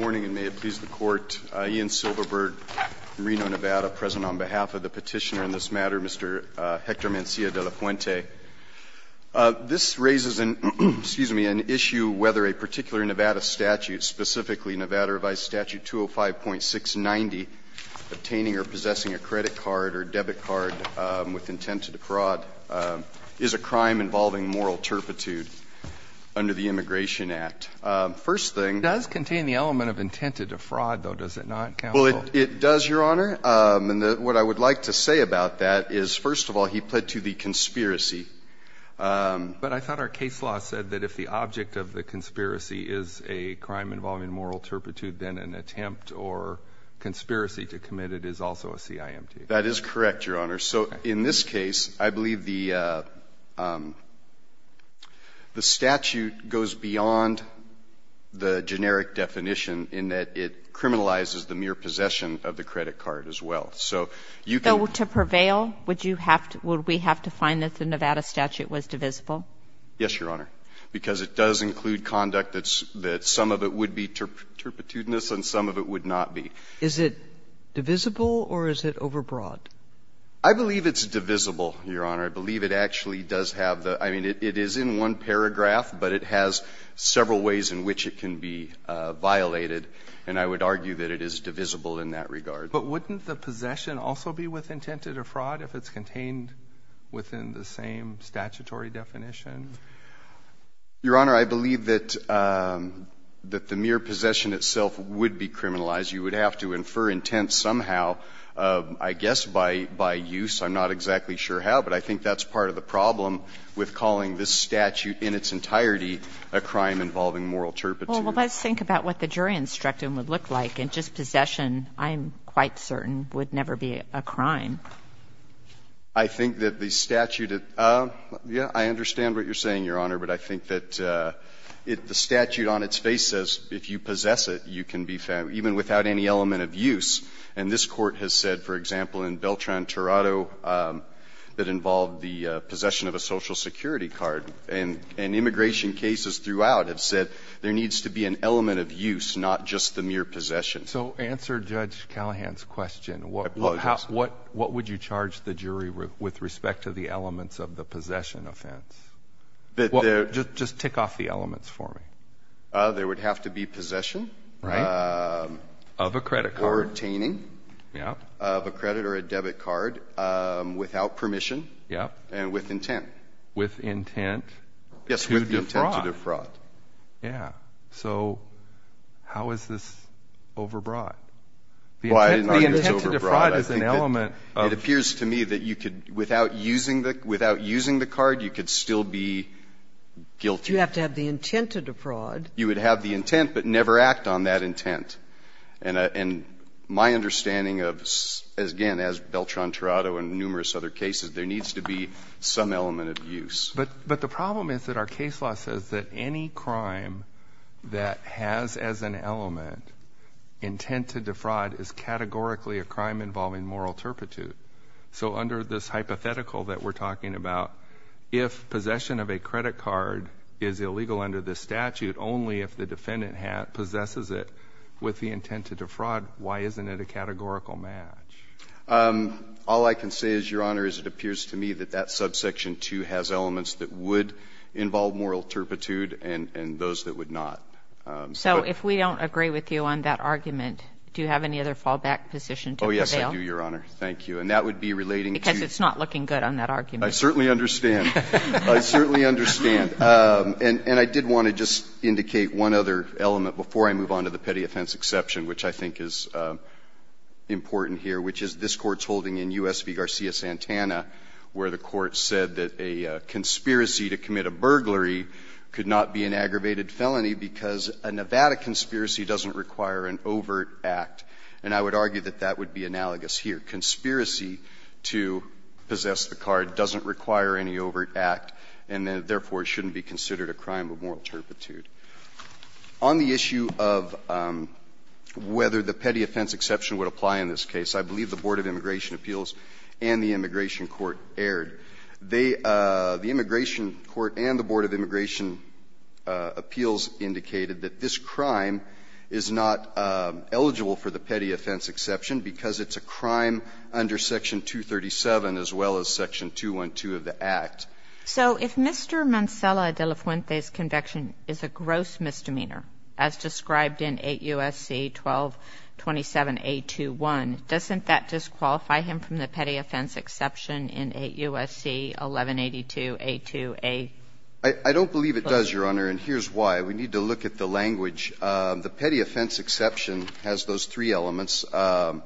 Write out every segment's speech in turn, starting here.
Warning, and may it please the Court, Ian Silverberg, Reno, Nevada, present on behalf of the petitioner in this matter, Mr. Hector Mancilla-Delafuente. This raises an issue whether a particular Nevada statute, specifically Nevada Revised Statute 205.690, obtaining or possessing a credit card or debit card with intent to defraud, is a crime involving moral turpitude under the Immigration Act. First thing- It does contain the element of intent to defraud, though, does it not, counsel? Well, it does, Your Honor, and what I would like to say about that is, first of all, he pled to the conspiracy. But I thought our case law said that if the object of the conspiracy is a crime involving moral turpitude, then an attempt or conspiracy to commit it is also a CIMT. That is correct, Your Honor. So in this case, I believe the statute goes beyond the generic definition in that it criminalizes the mere possession of the credit card as well. So you can- So to prevail, would you have to – would we have to find that the Nevada statute was divisible? Yes, Your Honor, because it does include conduct that some of it would be turpitudinous and some of it would not be. Is it divisible or is it overbroad? I believe it's divisible, Your Honor. I believe it actually does have the – I mean, it is in one paragraph, but it has several ways in which it can be violated. And I would argue that it is divisible in that regard. But wouldn't the possession also be with intent to defraud if it's contained within the same statutory definition? Your Honor, I believe that the mere possession itself would be criminalized. You would have to infer intent somehow, I guess, by use. I'm not exactly sure how, but I think that's part of the problem with calling this statute in its entirety a crime involving moral turpitude. Well, let's think about what the jury instruction would look like. In just possession, I'm quite certain, would never be a crime. I think that the statute – yeah, I understand what you're saying, Your Honor, but I think that the statute on its face says if you possess it, you can be found even without any element of use. And this Court has said, for example, in Beltran-Torado that involved the possession of a Social Security card, and immigration cases throughout have said there needs to be an element of use, not just the mere possession. So answer Judge Callahan's question. I apologize. What would you charge the jury with respect to the elements of the possession offense? Just tick off the elements for me. There would have to be possession. Right. Of a credit card. Or obtaining of a credit or a debit card without permission and with intent. With intent to defraud. Yes, with intent to defraud. Yeah. So how is this overbroad? The intent to defraud is an element of – You have to have the intent to defraud. You would have the intent but never act on that intent. And my understanding of, again, as Beltran-Torado and numerous other cases, there needs to be some element of use. But the problem is that our case law says that any crime that has as an element intent to defraud is categorically a crime involving moral turpitude. So under this hypothetical that we're talking about, if possession of a credit card is illegal under this statute, only if the defendant possesses it with the intent to defraud, why isn't it a categorical match? All I can say is, Your Honor, is it appears to me that that subsection 2 has elements that would involve moral turpitude and those that would not. So if we don't agree with you on that argument, do you have any other fallback position to prevail? Oh, yes, I do, Your Honor. Thank you. And that would be relating to – Because it's not looking good on that argument. I certainly understand. I certainly understand. And I did want to just indicate one other element before I move on to the petty offense exception, which I think is important here, which is this Court's holding in U.S. v. Garcia-Santana, where the Court said that a conspiracy to commit a burglary could not be an aggravated felony because a Nevada conspiracy doesn't require an overt act. And I would argue that that would be analogous here. Conspiracy to possess the card doesn't require any overt act and therefore shouldn't be considered a crime of moral turpitude. On the issue of whether the petty offense exception would apply in this case, I believe the Board of Immigration Appeals and the Immigration Court erred. They – the Immigration Court and the Board of Immigration Appeals indicated that this crime is not eligible for the petty offense exception because it's a crime under Section 237 as well as Section 212 of the Act. So if Mr. Mancela de la Fuente's conviction is a gross misdemeanor, as described in 8 U.S.C. 1227a21, doesn't that disqualify him from the petty offense exception in 8 U.S.C. 1182a2a? I don't believe it does, Your Honor, and here's why. We need to look at the language. The petty offense exception has those three elements, and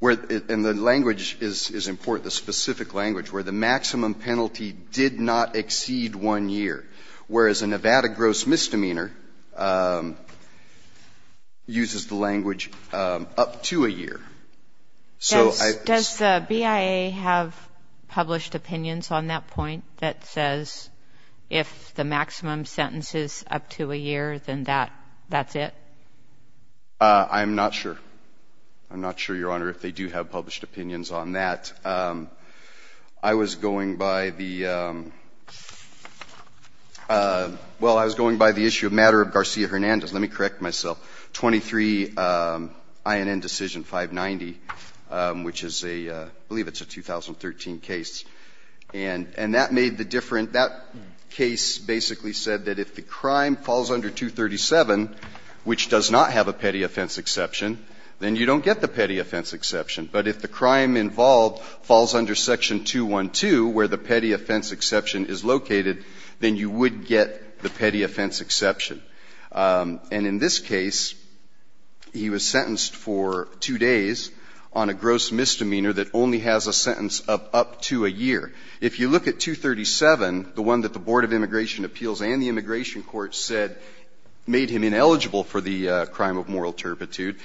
the language is important, the specific language, where the maximum penalty did not exceed 1 year, whereas a Nevada gross misdemeanor uses the language up to a year. Does the BIA have published opinions on that point that says if the maximum sentence is up to a year, then that's it? I'm not sure. I'm not sure, Your Honor, if they do have published opinions on that. I was going by the – well, I was going by the issue of matter of Garcia-Hernandez. Let me correct myself. 23 INN decision 590, which is a – I believe it's a 2013 case. And that made the difference. That case basically said that if the crime falls under 237, which does not have a petty offense exception, then you don't get the petty offense exception. But if the crime involved falls under section 212, where the petty offense exception is located, then you would get the petty offense exception. And in this case, he was sentenced for 2 days on a gross misdemeanor that only has a sentence of up to a year. If you look at 237, the one that the Board of Immigration Appeals and the Immigration Court said made him ineligible for the crime of moral turpitude,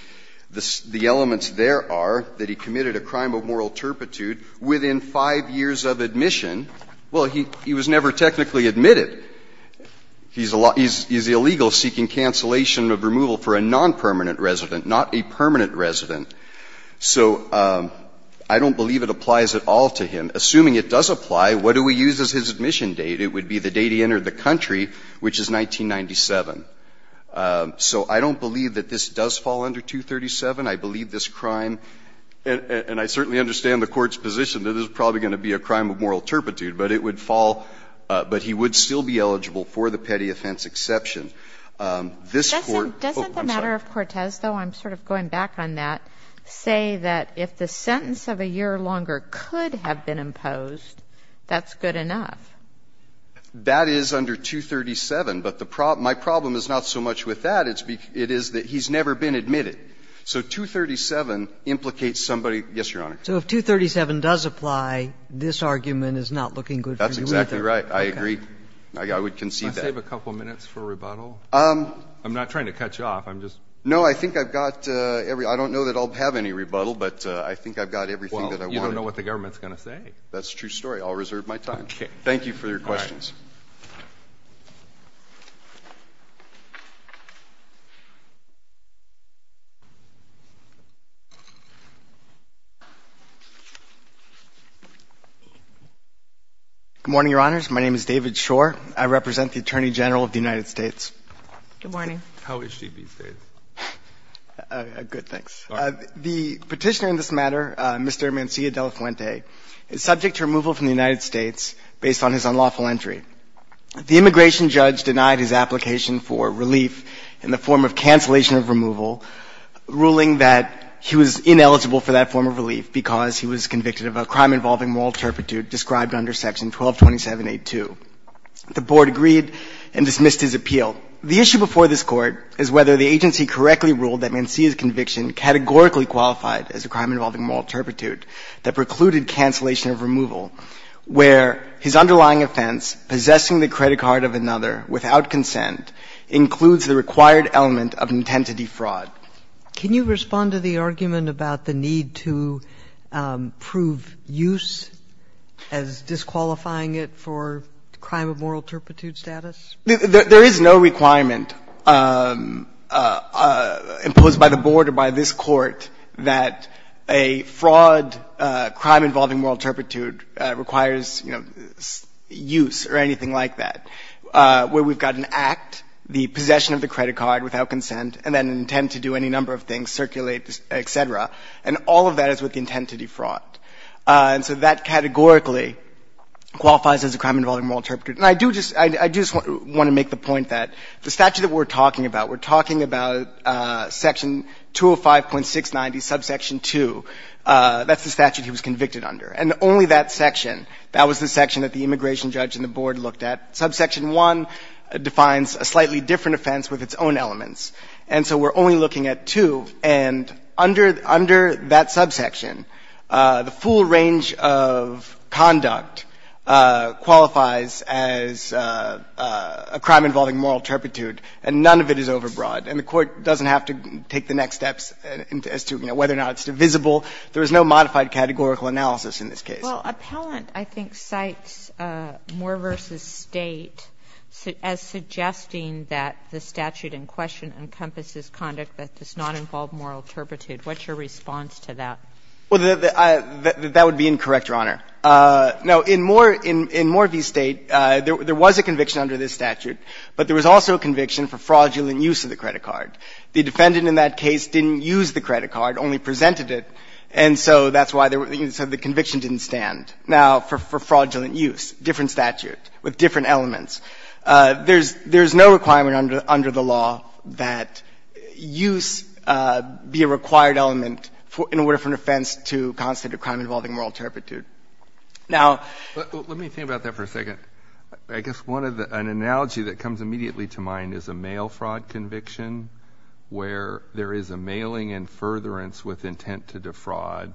the elements there are that he committed a crime of moral turpitude within 5 years of admission. Well, he was never technically admitted. He's illegal seeking cancellation of removal for a nonpermanent resident, not a permanent resident. So I don't believe it applies at all to him. Assuming it does apply, what do we use as his admission date? It would be the date he entered the country, which is 1997. So I don't believe that this does fall under 237. I believe this crime – and I certainly understand the Court's position that it's probably going to be a crime of moral turpitude, but it would fall – but he would still be eligible for the petty offense exception. This Court – oh, I'm sorry. Doesn't the matter of Cortez, though, I'm sort of going back on that, say that if the sentence of a year or longer could have been imposed, that's good enough? That is under 237, but the problem – my problem is not so much with that. It is that he's never been admitted. So 237 implicates somebody – yes, Your Honor. So if 237 does apply, this argument is not looking good for you either. That's exactly right. I agree. I would concede that. Can I save a couple minutes for rebuttal? I'm not trying to cut you off. I'm just – No. I think I've got – I don't know that I'll have any rebuttal, but I think I've got everything that I wanted. Well, you don't know what the government's going to say. That's a true story. I'll reserve my time. Okay. Thank you for your questions. All right. Good morning, Your Honors. My name is David Schor. I represent the Attorney General of the United States. Good morning. How is she these days? Good, thanks. The Petitioner in this matter, Mr. Mancilla De La Fuente, is subject to removal from the United States based on his unlawful entry. The immigration judge denied his application for relief in the form of cancellation of removal, ruling that he was ineligible for that form of relief because he was convicted of a crime involving moral turpitude described under Section 1227.8.2. The Board agreed and dismissed his appeal. The issue before this Court is whether the agency correctly ruled that Mancilla's conviction categorically qualified as a crime involving moral turpitude that precluded cancellation of removal, where his underlying offense, possessing the credit card of another without consent, includes the required element of intent to defraud. Can you respond to the argument about the need to prove use as disqualifying it for crime of moral turpitude status? There is no requirement imposed by the Board or by this Court that a fraud crime involving moral turpitude requires, you know, use or anything like that, where we've got an act, the possession of the credit card without consent, and then an intent to do any number of things, circulate, et cetera. And all of that is with the intent to defraud. And so that categorically qualifies as a crime involving moral turpitude. And I do just want to make the point that the statute that we're talking about, we're talking about Section 205.690, subsection 2. That's the statute he was convicted under. And only that section, that was the section that the immigration judge and the Board looked at. Subsection 1 defines a slightly different offense with its own elements. And so we're only looking at 2. And under that subsection, the full range of conduct qualifies as a crime involving moral turpitude, and none of it is overbroad. And the Court doesn't have to take the next steps as to whether or not it's divisible. There is no modified categorical analysis in this case. Well, Appellant, I think, cites Moore v. State as suggesting that the statute in question encompasses conduct that does not involve moral turpitude. What's your response to that? Well, that would be incorrect, Your Honor. Now, in Moore v. State, there was a conviction under this statute, but there was also a conviction for fraudulent use of the credit card. The defendant in that case didn't use the credit card, only presented it, and so that's why the conviction didn't stand. Now, for fraudulent use, different statute with different elements. There's no requirement under the law that use be a required element in order for an offense to constitute a crime involving moral turpitude. Now — Let me think about that for a second. I guess an analogy that comes immediately to mind is a mail fraud conviction where there is a mailing and furtherance with intent to defraud,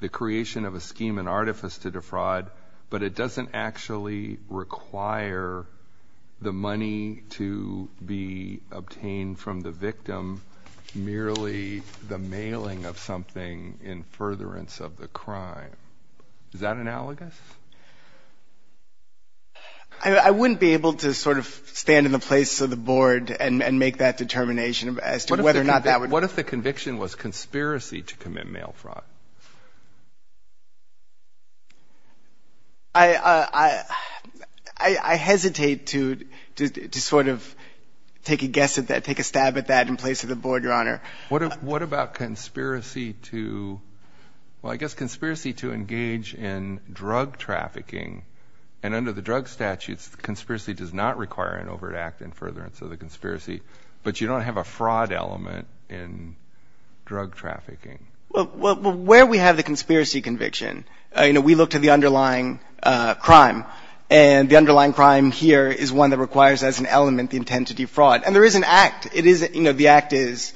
the creation of a scheme and artifice to defraud, but it doesn't actually require the money to be obtained from the victim, merely the mailing of something in furtherance of the crime. Is that analogous? I wouldn't be able to sort of stand in the place of the Board and make that determination as to whether or not that would — What if the conviction was conspiracy to commit mail fraud? I hesitate to sort of take a guess at that, take a stab at that in place of the Board, Your Honor. What about conspiracy to — well, I guess conspiracy to engage in drug trafficking? And under the drug statutes, conspiracy does not require an overt act in furtherance of the conspiracy, but you don't have a fraud element in drug trafficking. Well, where we have the conspiracy conviction, you know, we look to the underlying crime, and the underlying crime here is one that requires as an element the intent to defraud. And there is an act. It is, you know, the act is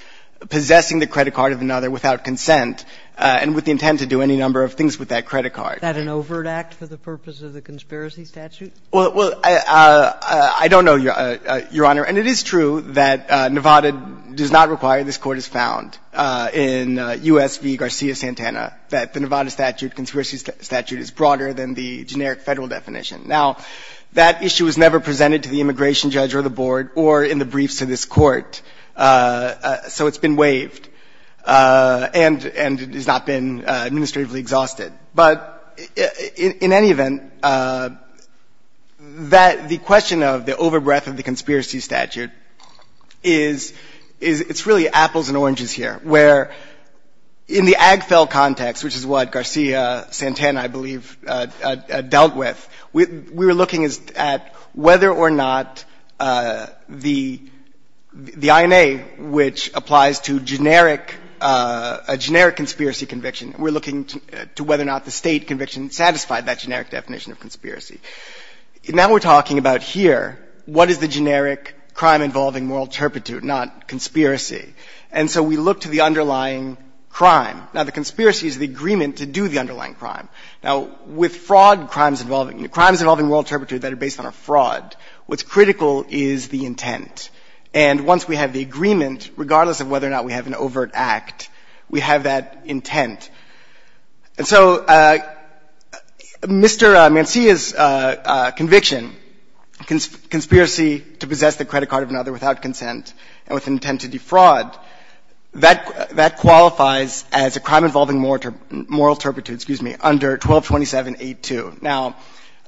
possessing the credit card of another without consent and with the intent to do any number of things with that credit card. Is that an overt act for the purpose of the conspiracy statute? Well, I don't know, Your Honor. And it is true that Nevada does not require, this Court has found in U.S. v. Garcia-Santana, that the Nevada statute, conspiracy statute, is broader than the generic Federal definition. Now, that issue was never presented to the immigration judge or the Board or in the Court, so it's been waived, and it has not been administratively exhausted. But in any event, that the question of the overbreath of the conspiracy statute is, it's really apples and oranges here, where in the Agfel context, which is what Garcia-Santana, I believe, dealt with, we were looking at whether or not the Federal definition, the INA, which applies to generic, a generic conspiracy conviction, we're looking to whether or not the State conviction satisfied that generic definition of conspiracy. Now we're talking about here what is the generic crime involving moral turpitude, not conspiracy. And so we look to the underlying crime. Now, the conspiracy is the agreement to do the underlying crime. Now, with fraud crimes involving, crimes involving moral turpitude that are based on a fraud, what's critical is the intent. And once we have the agreement, regardless of whether or not we have an overt act, we have that intent. And so Mr. Mancilla's conviction, conspiracy to possess the credit card of another without consent and with intent to defraud, that qualifies as a crime involving moral turpitude, excuse me, under 1227.8.2. Now,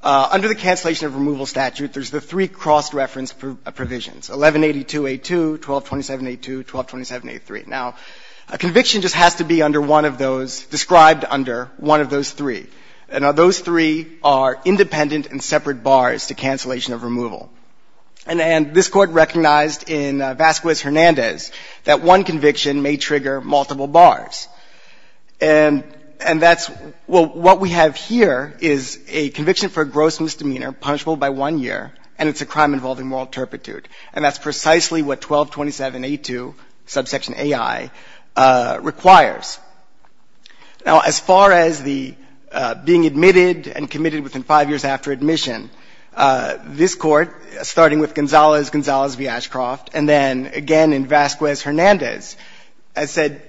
under the cancellation of removal statute, there's the three cross-reference provisions, 1182.8.2, 1227.8.2, 1227.8.3. Now, a conviction just has to be under one of those, described under one of those three. Now, those three are independent and separate bars to cancellation of removal. And this Court recognized in Vasquez-Hernandez that one conviction may trigger multiple bars. And that's, well, what we have here is a conviction for a gross misdemeanor punishable by one year, and it's a crime involving moral turpitude. And that's precisely what 1227.8.2, subsection A.I., requires. Now, as far as the being admitted and committed within five years after admission, this Court, starting with Gonzales, Gonzales v. Ashcroft, and then again in Vasquez-Hernandez has said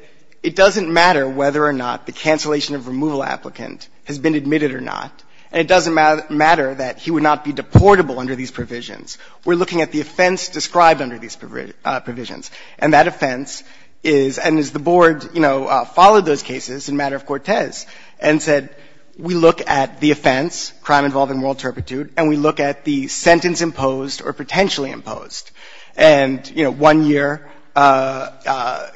it doesn't matter whether or not the cancellation of removal applicant has been admitted or not. And it doesn't matter that he would not be deportable under these provisions. We're looking at the offense described under these provisions. And that offense is, and as the Board, you know, followed those cases in matter of Cortez, and said we look at the offense, crime involving moral turpitude, and we look at the sentence imposed or potentially imposed. And, you know, one year, you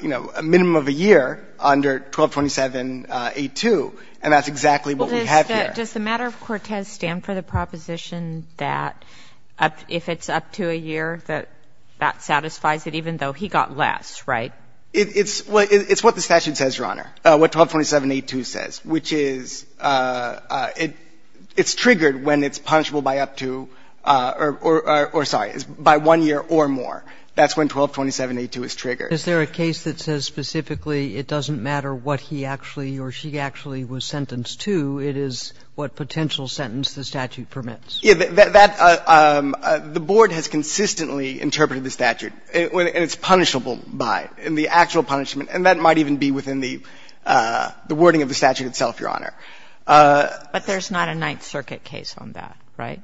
know, a minimum of a year under 1227.8.2, and that's exactly what we have here. Does the matter of Cortez stand for the proposition that if it's up to a year, that satisfies it even though he got less, right? It's what the statute says, Your Honor, what 1227.8.2 says, which is it's triggered when it's punishable by up to or sorry, by one year or more. That's when 1227.8.2 is triggered. Is there a case that says specifically it doesn't matter what he actually or she actually was sentenced to, it is what potential sentence the statute permits? Yeah, that's the Board has consistently interpreted the statute. And it's punishable by, in the actual punishment. And that might even be within the wording of the statute itself, Your Honor. But there's not a Ninth Circuit case on that, right?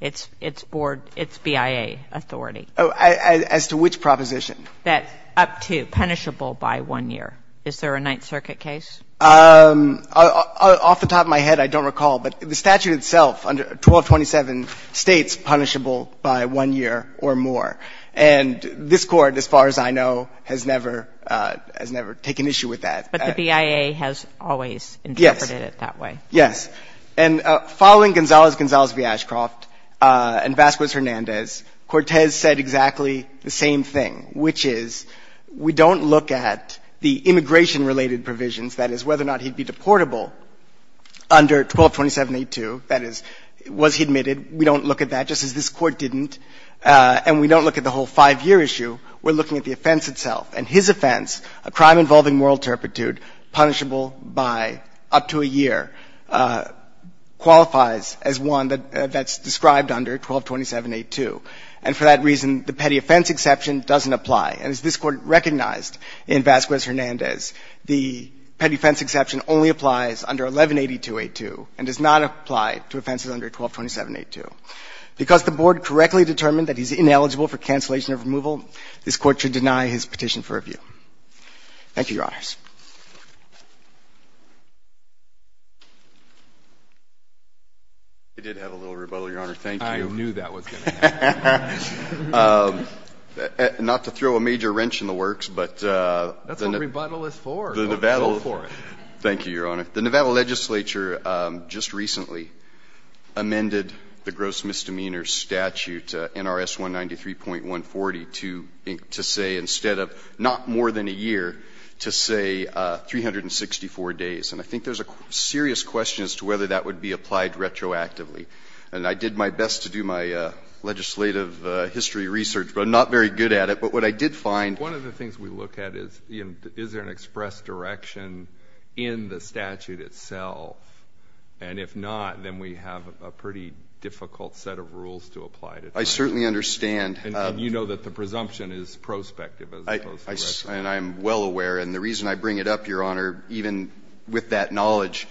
It's Board, it's BIA authority. As to which proposition? That up to, punishable by one year. Is there a Ninth Circuit case? Off the top of my head, I don't recall. But the statute itself under 1227 states punishable by one year or more. And this Court, as far as I know, has never, has never taken issue with that. But the BIA has always interpreted it that way. Yes. Yes. And following Gonzalez-Gonzalez v. Ashcroft and Vasquez-Hernandez, Cortez said exactly the same thing, which is we don't look at the immigration related provisions, that is, whether or not he'd be deportable under 1227.82. That is, was he admitted? We don't look at that, just as this Court didn't. And we don't look at the whole 5-year issue. We're looking at the offense itself. And his offense, a crime involving moral turpitude, punishable by up to a year, qualifies as one that's described under 1227.82. And for that reason, the petty offense exception doesn't apply. And as this Court recognized in Vasquez-Hernandez, the petty offense exception only applies under 1182.82 and does not apply to offenses under 1227.82. Because the Board correctly determined that he's ineligible for cancellation of removal, this Court should deny his petition for review. Thank you, Your Honors. I did have a little rebuttal, Your Honor. Thank you. I knew that was going to happen. Not to throw a major wrench in the works, but the Nevada legislature just recently amended the gross misdemeanor statute, NRS 193.140, to say instead of not more than a year, to say 364 days. And I think there's a serious question as to whether that would be applied retroactively. And I did my best to do my legislative history research, but I'm not very good at it. But what I did find ---- One of the things we look at is, is there an express direction in the statute itself? And if not, then we have a pretty difficult set of rules to apply to it. I certainly understand. And you know that the presumption is prospective as opposed to retroactive. And I'm well aware. And the reason I bring it up, Your Honor, even with that knowledge,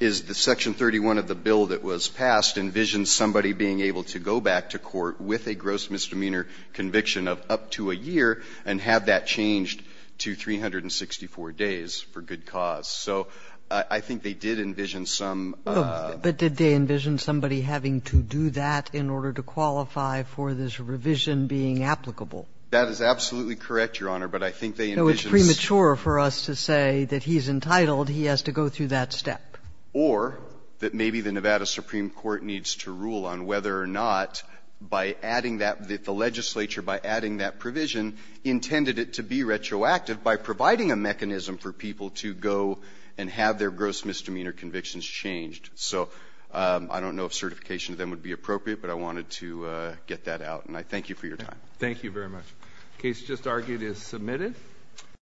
is the Section 31 of the bill that was passed envisioned somebody being able to go back to court with a gross misdemeanor conviction of up to a year and have that changed to 364 days for good cause. So I think they did envision some ---- But did they envision somebody having to do that in order to qualify for this revision being applicable? That is absolutely correct, Your Honor. But I think they envisioned ---- So it's premature for us to say that he's entitled, he has to go through that step. Or that maybe the Nevada Supreme Court needs to rule on whether or not by adding that, that the legislature, by adding that provision, intended it to be retroactive by providing a mechanism for people to go and have their gross misdemeanor convictions changed. So I don't know if certification of them would be appropriate, but I wanted to get that out. And I thank you for your time. Thank you very much. The case just argued is submitted.